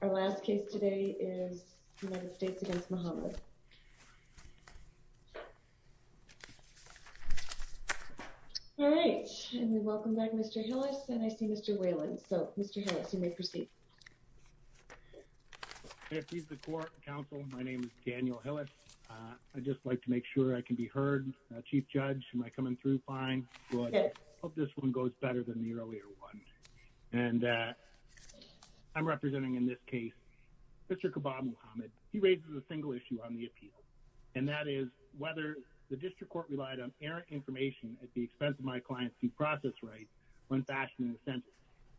Our last case today is United States v. Muhammad Alright, and we welcome back Mr. Hillis and I see Mr. Whalen, so Mr. Hillis, you may proceed. May it please the court and counsel, my name is Daniel Hillis. I'd just like to make sure I can be heard. Chief Judge, am I coming through fine? Yes. I hope this one goes better than the earlier one. And I'm representing in this case Mr. Ka'ba Muhammad. He raises a single issue on the appeal. And that is whether the district court relied on errant information at the expense of my client's due process rights when fashioning the sentence.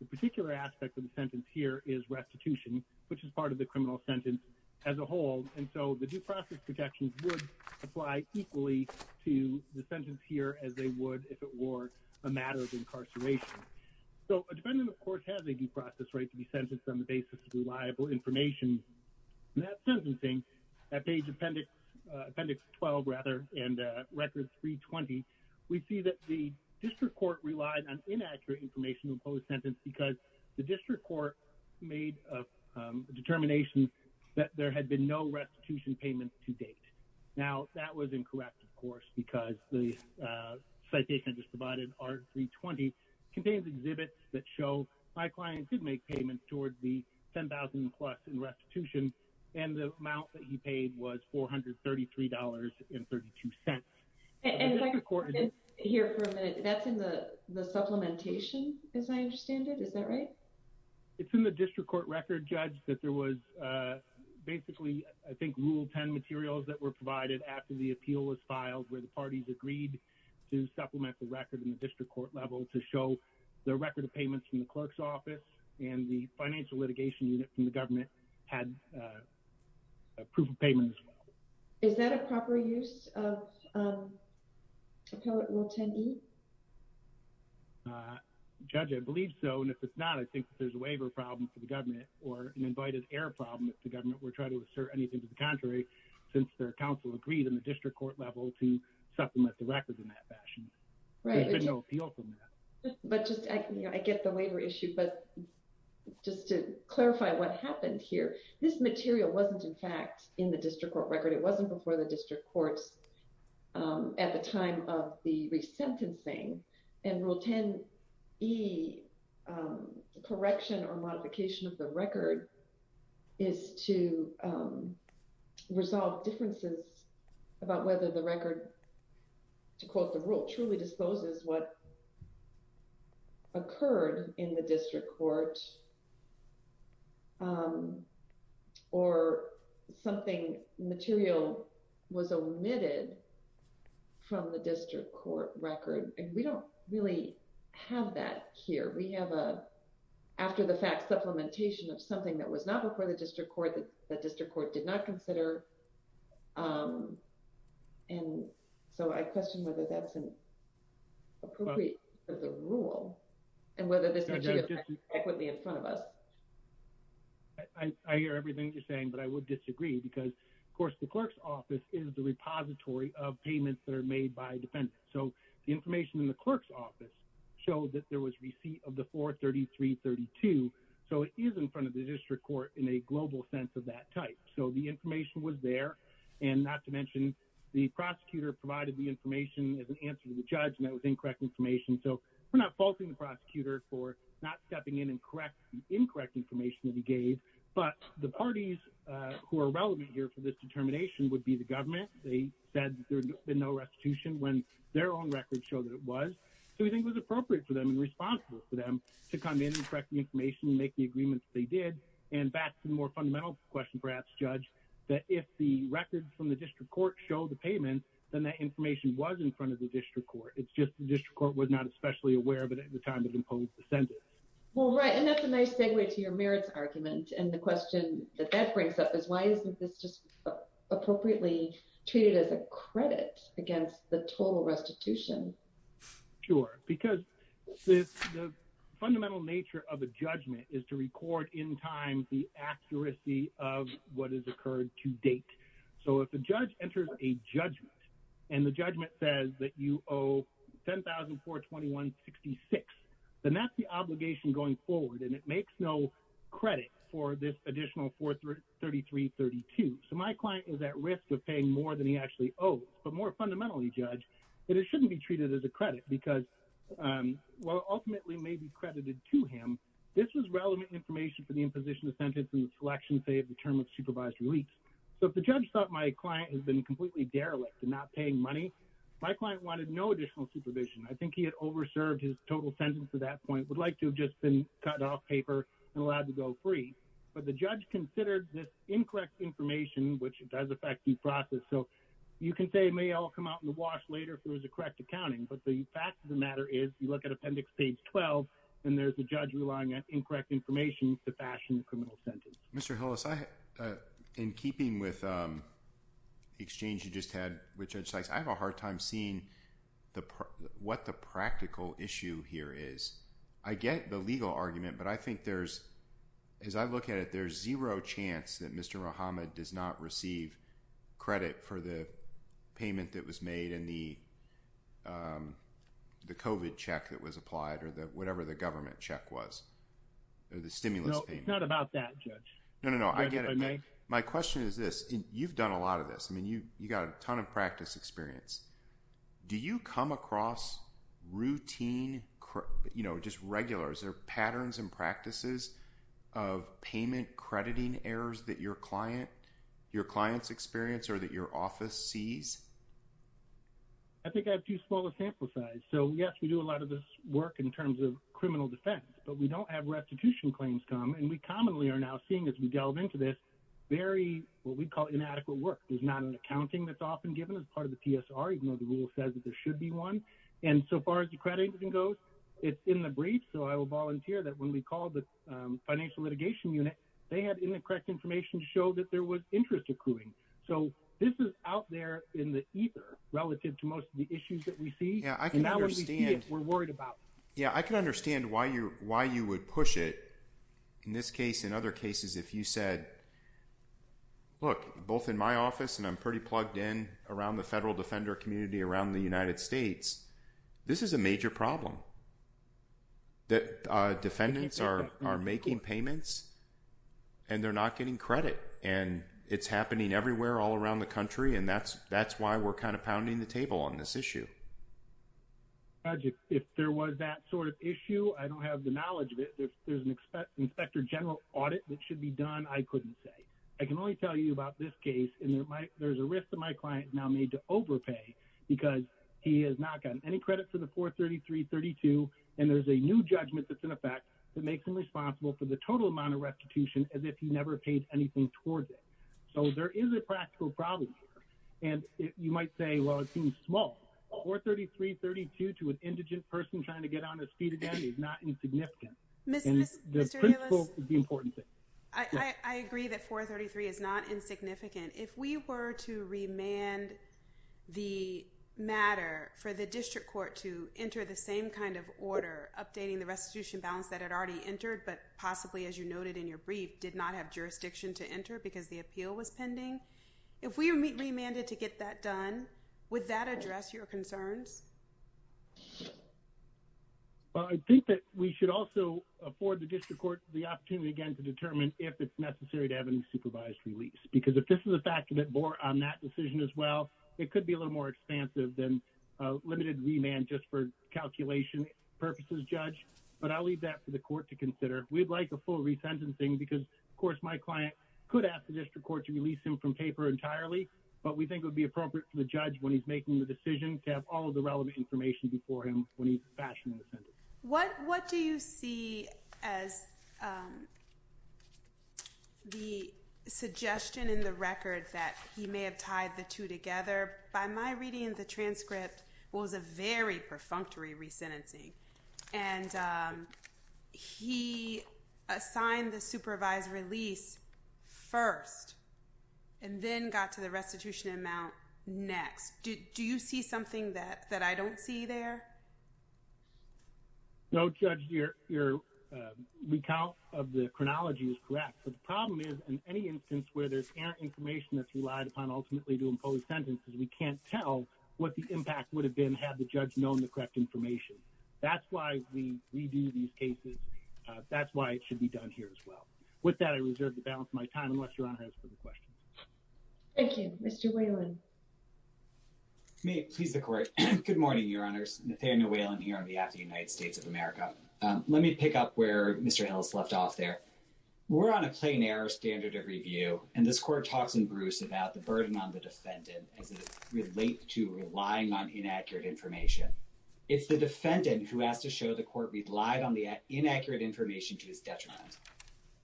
The particular aspect of the sentence here is restitution, which is part of the criminal sentence as a whole. And so the due process protections would apply equally to the sentence here as they would if it were a matter of incarceration. So a defendant, of course, has a due process right to be sentenced on the basis of reliable information. In that sentencing, at page appendix 12 and records 320, we see that the district court relied on inaccurate information in the post-sentence because the district court made a determination that there had been no restitution payments to date. Now, that was incorrect, of course, because the citation I just provided, R320, contains exhibits that show my client could make payments towards the $10,000 plus in restitution. And the amount that he paid was $433.32. And if I could hear for a minute, that's in the supplementation, as I understand it. Is that right? It's in the district court record, Judge, that there was basically, I think, Rule 10 materials that were provided after the appeal was filed, where the parties agreed to supplement the record in the district court level to show the record of payments from the clerk's office and the financial litigation unit from the government had proof of payments. Is that a proper use of Appellate Rule 10e? Judge, I believe so. And if it's not, I think there's a waiver problem for the government or an invited error problem if the government were to try to assert anything to the contrary, since their counsel agreed in the district court level to supplement the records in that fashion. There's been no appeal from that. I get the waiver issue, but just to clarify what happened here, this material wasn't in fact in the district court record. It wasn't before the district courts at the time of the resentencing. And Rule 10e, correction or modification of the record, is to resolve differences about whether the record, to quote the rule, truly disposes what occurred in the district court or something material was omitted from the district court record. And we don't really have that here. We have a, after the fact, supplementation of something that was not before the district court that the district court did not consider. And so I question whether that's appropriate for the rule and whether this material fits in front of us. I hear everything you're saying, but I would disagree because, of course, the clerk's office is the repository of payments that are made by defendants. So the information in the clerk's office showed that there was receipt of the 43332. So it is in front of the district court in a global sense of that type. So the information was there. And not to mention, the prosecutor provided the information as an answer to the judge, and that was incorrect information. So we're not faulting the prosecutor for not stepping in and correct the incorrect information that he gave. But the parties who are relevant here for this determination would be the government. They said there had been no restitution when their own records show that it was. So we think it was appropriate for them and responsible for them to come in and correct the information and make the agreements that they did. And back to the more fundamental question, perhaps, Judge, that if the records from the district court show the payment, then that information was in front of the district court. It's just the district court was not especially aware of it at the time it imposed the sentence. Well, right, and that's a nice segue to your merits argument. And the question that that brings up is why isn't this just appropriately treated as a credit against the total restitution? Sure, because the fundamental nature of a judgment is to record in time the accuracy of what has occurred to date. So if a judge enters a judgment and the judgment says that you owe $10,421.66, then that's the obligation going forward. And it makes no credit for this additional $433.32. So my client is at risk of paying more than he actually owes. But more fundamentally, Judge, that it shouldn't be treated as a credit because while it ultimately may be credited to him, this was relevant information for the imposition of sentence and the selection, say, of the term of supervised release. So if the judge thought my client has been completely derelict and not paying money, my client wanted no additional supervision. I think he had over-served his total sentence at that point, would like to have just been cut off paper and allowed to go free. But the judge considered this incorrect information, which does affect due process. So you can say it may all come out in the wash later if there was a correct accounting. But the fact of the matter is you look at Appendix Page 12, and there's a judge relying on incorrect information to fashion a criminal sentence. Mr. Hillis, in keeping with the exchange you just had with Judge Sykes, I have a hard time seeing what the practical issue here is. I get the legal argument, but I think there's – as I look at it, there's zero chance that Mr. Muhammad does not receive credit for the payment that was made and the COVID check that was applied or whatever the government check was or the stimulus payment. No, it's not about that, Judge. No, no, no. I get it. My question is this. You've done a lot of this. You've got a ton of practice experience. Do you come across routine, just regular – is there patterns and practices of payment crediting errors that your client's experience or that your office sees? I think I have too small a sample size. So, yes, we do a lot of this work in terms of criminal defense, but we don't have restitution claims come. And we commonly are now seeing, as we delve into this, very what we call inadequate work. There's not an accounting that's often given as part of the PSR, even though the rule says that there should be one. And so far as the credit goes, it's in the briefs. So I will volunteer that when we call the Financial Litigation Unit, they had incorrect information to show that there was interest accruing. So this is out there in the ether relative to most of the issues that we see. Yeah, I can understand why you would push it. In this case, in other cases, if you said, look, both in my office and I'm pretty plugged in around the federal defender community around the United States, this is a major problem that defendants are making payments and they're not getting credit. And it's happening everywhere all around the country. And that's that's why we're kind of pounding the table on this issue. If there was that sort of issue, I don't have the knowledge of it. There's an inspector general audit that should be done. I couldn't say I can only tell you about this case. And there's a risk that my client now need to overpay because he has not gotten any credit for the 433 32. And there's a new judgment that's in effect that makes him responsible for the total amount of restitution as if he never paid anything towards it. So there is a practical problem. And you might say, well, it seems small or 33 32 to an indigent person trying to get on his feet again is not insignificant. The important thing, I agree that 433 is not insignificant. If we were to remand the matter for the district court to enter the same kind of order, updating the restitution balance that had already entered. But possibly, as you noted in your brief, did not have jurisdiction to enter because the appeal was pending. If we remanded to get that done, would that address your concerns? Well, I think that we should also afford the district court the opportunity again to determine if it's necessary to have any supervised release. Because if this is a fact that bore on that decision as well, it could be a little more expansive than limited remand just for calculation purposes, judge. But I'll leave that for the court to consider. We'd like a full resentencing because, of course, my client could ask the district court to release him from paper entirely. But we think would be appropriate for the judge when he's making the decision to have all of the relevant information before him when he's fashioning the sentence. What what do you see as the suggestion in the record that he may have tied the two together? By my reading, the transcript was a very perfunctory resentencing. And he assigned the supervised release first and then got to the restitution amount next. Do you see something that that I don't see there? No, judge, your recount of the chronology is correct. But the problem is, in any instance where there's information that's relied upon ultimately to impose sentences, we can't tell what the impact would have been had the judge known the correct information. That's why we redo these cases. That's why it should be done here as well. With that, I reserve the balance of my time, unless your honor has a question. Thank you, Mr. Whalen. May it please the court. Good morning, your honors. Nathaniel Whalen here on behalf of the United States of America. Let me pick up where Mr. Hill's left off there. We're on a plain error standard of review. And this court talks in Bruce about the burden on the defendant as it relates to relying on inaccurate information. It's the defendant who has to show the court relied on the inaccurate information to his detriment.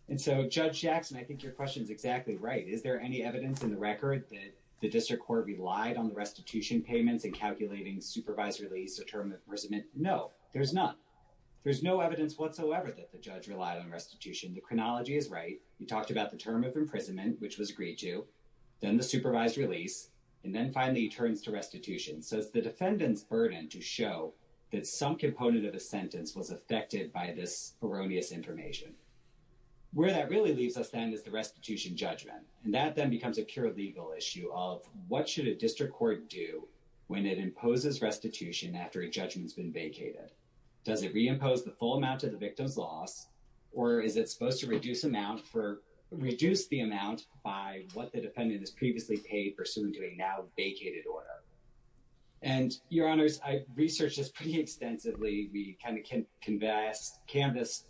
And so, Judge Jackson, I think your question is exactly right. Is there any evidence in the record that the district court relied on the restitution payments in calculating supervised release or term of imprisonment? No, there's none. There's no evidence whatsoever that the judge relied on restitution. The chronology is right. We talked about the term of imprisonment, which was agreed to. Then the supervised release. And then finally he turns to restitution. So it's the defendant's burden to show that some component of the sentence was affected by this erroneous information. Where that really leaves us then is the restitution judgment. And that then becomes a pure legal issue of what should a district court do when it imposes restitution after a judgment's been vacated? Does it reimpose the full amount of the victim's loss? Or is it supposed to reduce the amount by what the defendant has previously paid pursuant to a now vacated order? And, Your Honors, I researched this pretty extensively. We kind of canvassed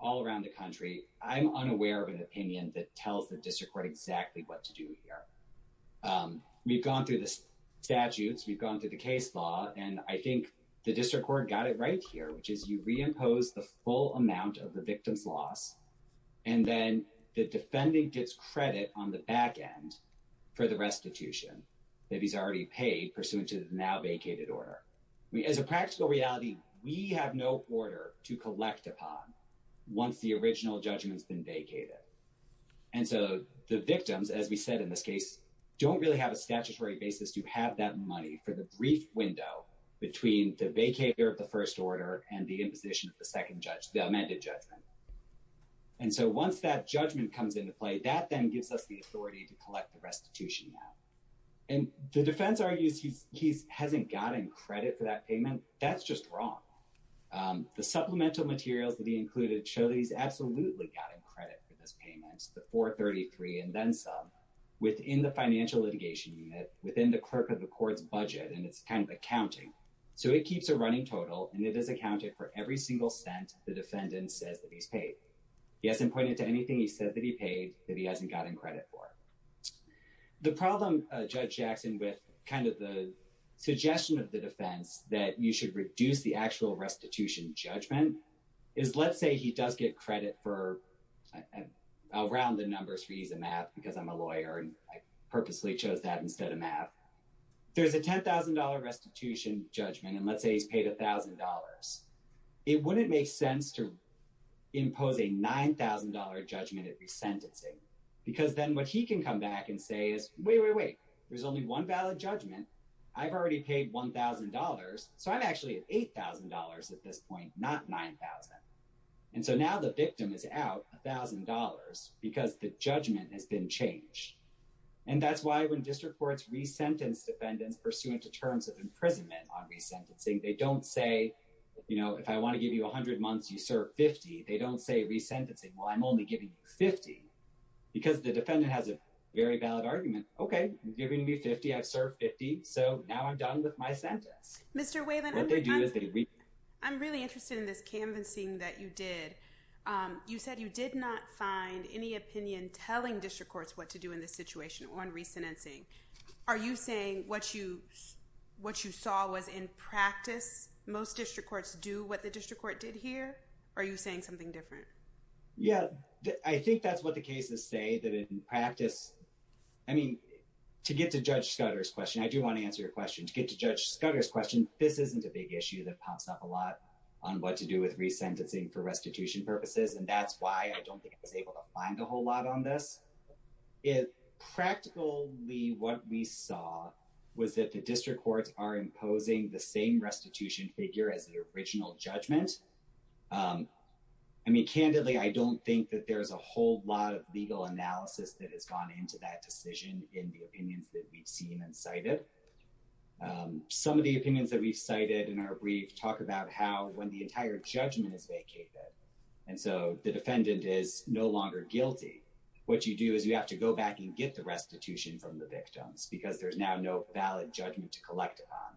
all around the country. I'm unaware of an opinion that tells the district court exactly what to do here. We've gone through the statutes. We've gone through the case law. And I think the district court got it right here, which is you reimpose the full amount of the victim's loss. And then the defendant gets credit on the back end for the restitution that he's already paid pursuant to the now vacated order. As a practical reality, we have no order to collect upon once the original judgment's been vacated. And so the victims, as we said in this case, don't really have a statutory basis to have that money for the brief window between the vacater of the first order and the imposition of the second judgment, the amended judgment. And so once that judgment comes into play, that then gives us the authority to collect the restitution now. And the defense argues he hasn't gotten credit for that payment. That's just wrong. The supplemental materials that he included show that he's absolutely gotten credit for this payment, the 433 and then some, within the financial litigation unit, within the clerk of the court's budget, and it's kind of accounting. So it keeps a running total and it is accounted for every single cent the defendant says that he's paid. He hasn't pointed to anything he said that he paid that he hasn't gotten credit for. The problem, Judge Jackson, with kind of the suggestion of the defense that you should reduce the actual restitution judgment is let's say he does get credit for around the numbers for ease of math because I'm a lawyer and I purposely chose that instead of math. There's a $10,000 restitution judgment and let's say he's paid $1,000. It wouldn't make sense to impose a $9,000 judgment at resentencing because then what he can come back and say is, wait, wait, wait, there's only one valid judgment. I've already paid $1,000, so I'm actually at $8,000 at this point, not $9,000. And so now the victim is out $1,000 because the judgment has been changed. And that's why when district courts resentence defendants pursuant to terms of imprisonment on resentencing, they don't say, you know, if I want to give you 100 months, you serve 50. They don't say resentencing. Well, I'm only giving you 50 because the defendant has a very valid argument. OK, you're going to be 50. I've served 50. So now I'm done with my sentence. Mr. Wayland, I'm really interested in this canvassing that you did. You said you did not find any opinion telling district courts what to do in this situation on resentencing. Are you saying what you what you saw was in practice? Most district courts do what the district court did here. Are you saying something different? Yeah, I think that's what the cases say that in practice. I mean, to get to Judge Scudder's question, I do want to answer your question to get to Judge Scudder's question. This isn't a big issue that pops up a lot on what to do with resentencing for restitution purposes. And that's why I don't think I was able to find a whole lot on this. Practically, what we saw was that the district courts are imposing the same restitution figure as the original judgment. And I mean, candidly, I don't think that there's a whole lot of legal analysis that has gone into that decision in the opinions that we've seen and cited. Some of the opinions that we've cited in our brief talk about how when the entire judgment is vacated. And so the defendant is no longer guilty. What you do is you have to go back and get the restitution from the victims because there's now no valid judgment to collect on.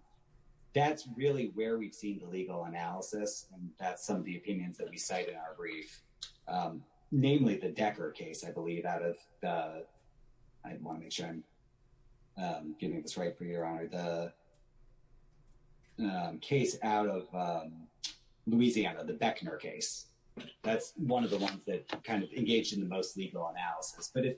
That's really where we've seen the legal analysis. And that's some of the opinions that we cite in our brief, namely the Decker case, I believe, out of. I want to make sure I'm getting this right for your honor, the case out of Louisiana, the Beckner case. That's one of the ones that kind of engaged in the most legal analysis. But if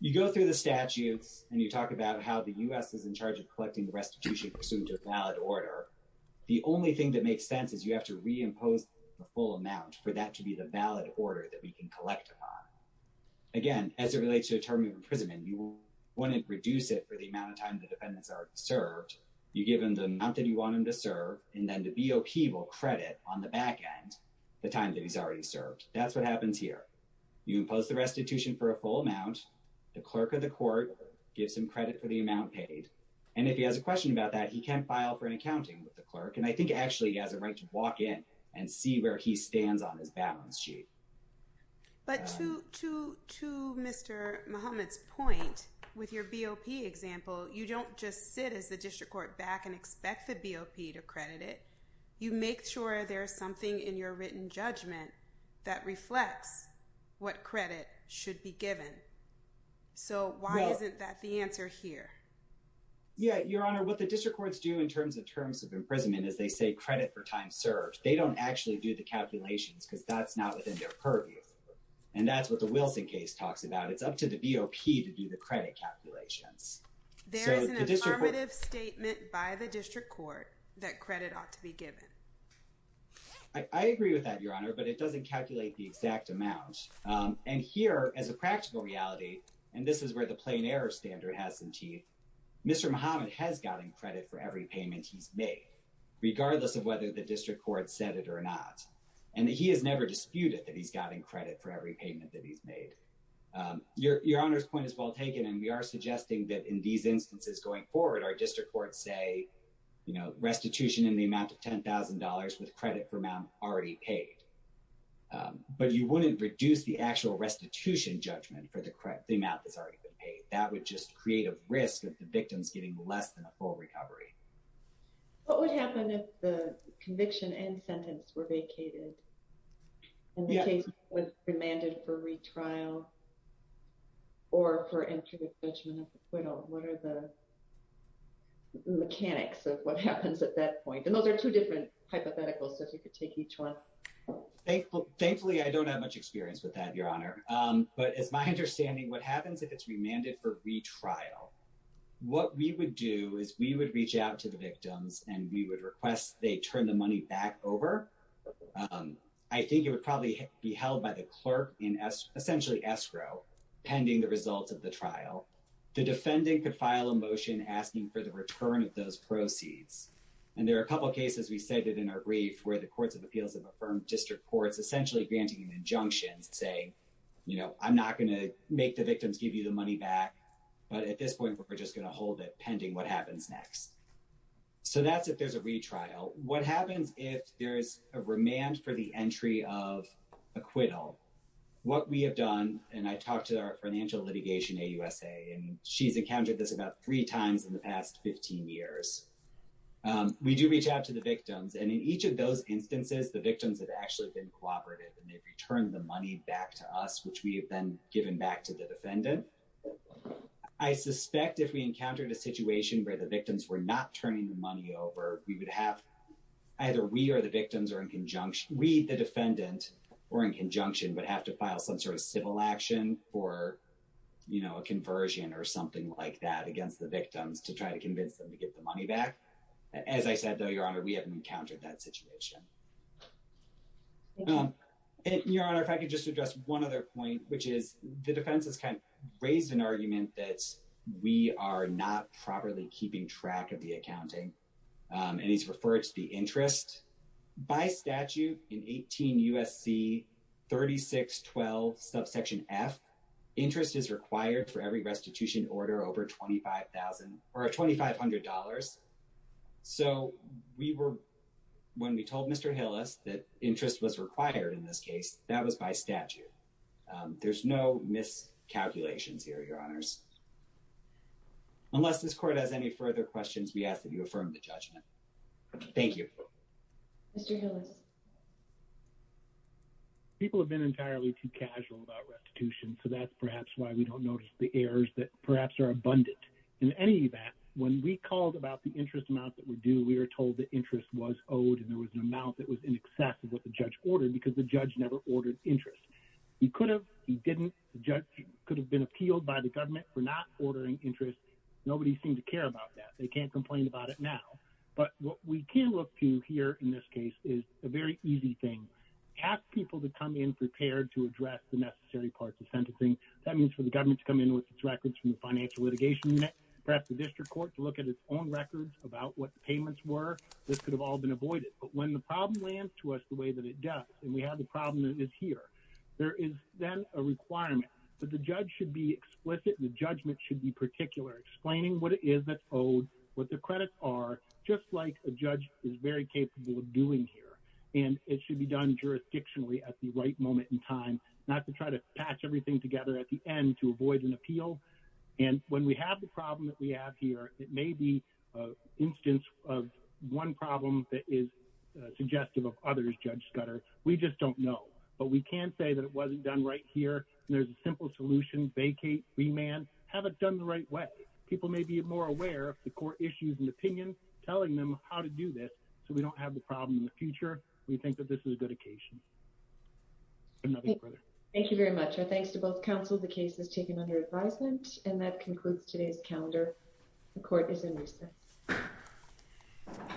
you go through the statutes and you talk about how the U.S. is in charge of collecting restitution pursuant to a valid order. The only thing that makes sense is you have to reimpose the full amount for that to be the valid order that we can collect upon. Again, as it relates to a term of imprisonment, you want to reduce it for the amount of time the defendants are served. You give them the amount that you want them to serve. And then the BOP will credit on the back end the time that he's already served. That's what happens here. You impose the restitution for a full amount. The clerk of the court gives him credit for the amount paid. And if he has a question about that, he can file for an accounting with the clerk. And I think actually he has a right to walk in and see where he stands on his balance sheet. But to Mr. Muhammad's point, with your BOP example, you don't just sit as the district court back and expect the BOP to credit it. You make sure there's something in your written judgment that reflects what credit should be given. So why isn't that the answer here? Yeah, Your Honor, what the district courts do in terms of terms of imprisonment is they say credit for time served. They don't actually do the calculations because that's not within their purview. And that's what the Wilson case talks about. It's up to the BOP to do the credit calculations. There is an affirmative statement by the district court that credit ought to be given. I agree with that, Your Honor, but it doesn't calculate the exact amount. And here, as a practical reality, and this is where the plain error standard has some teeth, Mr. Muhammad has gotten credit for every payment he's made, regardless of whether the district court said it or not. And he has never disputed that he's gotten credit for every payment that he's made. Your Honor's point is well taken, and we are suggesting that in these instances going forward, our district courts say, you know, restitution in the amount of $10,000 with credit for amount already paid. But you wouldn't reduce the actual restitution judgment for the amount that's already been paid. That would just create a risk of the victims getting less than a full recovery. What would happen if the conviction and sentence were vacated? And the case was remanded for retrial? Or for interdict judgment of acquittal? What are the mechanics of what happens at that point? And those are two different hypotheticals, so if you could take each one. Thankfully, I don't have much experience with that, Your Honor. But it's my understanding what happens if it's remanded for retrial. What we would do is we would reach out to the victims and we would request they turn the money back over. I think it would probably be held by the clerk in essentially escrow pending the results of the trial. The defendant could file a motion asking for the return of those proceeds. And there are a couple cases we cited in our brief where the courts of appeals have affirmed district courts essentially granting an injunction saying, you know, I'm not going to make the victims give you the money back. But at this point, we're just going to hold it pending what happens next. So that's if there's a retrial. What happens if there's a remand for the entry of acquittal? What we have done, and I talked to our financial litigation, AUSA, and she's encountered this about three times in the past 15 years. We do reach out to the victims. And in each of those instances, the victims have actually been cooperative and they've returned the money back to us, which we have then given back to the defendant. I suspect if we encountered a situation where the victims were not turning the money over, we would have either we or the victims are in conjunction. We, the defendant, or in conjunction would have to file some sort of civil action or, you know, a conversion or something like that against the victims to try to convince them to get the money back. As I said, though, Your Honor, we haven't encountered that situation. Your Honor, if I could just address one other point, which is the defense has kind of raised an argument that we are not properly keeping track of the accounting. And he's referred to the interest by statute in 18 U.S.C. 3612 subsection F. Interest is required for every restitution order over $25,000 or $2,500. So we were, when we told Mr. Hillis that interest was required in this case, that was by statute. There's no miscalculations here, Your Honors. Unless this court has any further questions, we ask that you affirm the judgment. Thank you. Mr. Hillis. People have been entirely too casual about restitution. So that's perhaps why we don't notice the errors that perhaps are abundant. In any event, when we called about the interest amount that we do, we were told the interest was owed and there was an amount that was in excess of what the judge ordered because the judge never ordered interest. He could have, he didn't. The judge could have been appealed by the government for not ordering interest. Nobody seemed to care about that. They can't complain about it now. But what we can look to here in this case is a very easy thing. Ask people to come in prepared to address the necessary parts of sentencing. That means for the government to come in with its records from the financial litigation unit, perhaps the district court to look at its own records about what the payments were. This could have all been avoided. But when the problem lands to us the way that it does, and we have the problem that is here, there is then a requirement that the judge should be explicit and the judgment should be particular, explaining what it is that's owed, what the credits are, just like a judge is very capable of doing here. And it should be done jurisdictionally at the right moment in time, not to try to patch everything together at the end to avoid an appeal. And when we have the problem that we have here, it may be an instance of one problem that is suggestive of others, Judge Scudder. We just don't know. But we can say that it wasn't done right here. There's a simple solution, vacate, remand. Have it done the right way. People may be more aware of the court issues and opinion, telling them how to do this, so we don't have the problem in the future. We think that this is a good occasion. Thank you very much. Thanks to both counsel. The case is taken under advisement. And that concludes today's calendar. The court is in recess.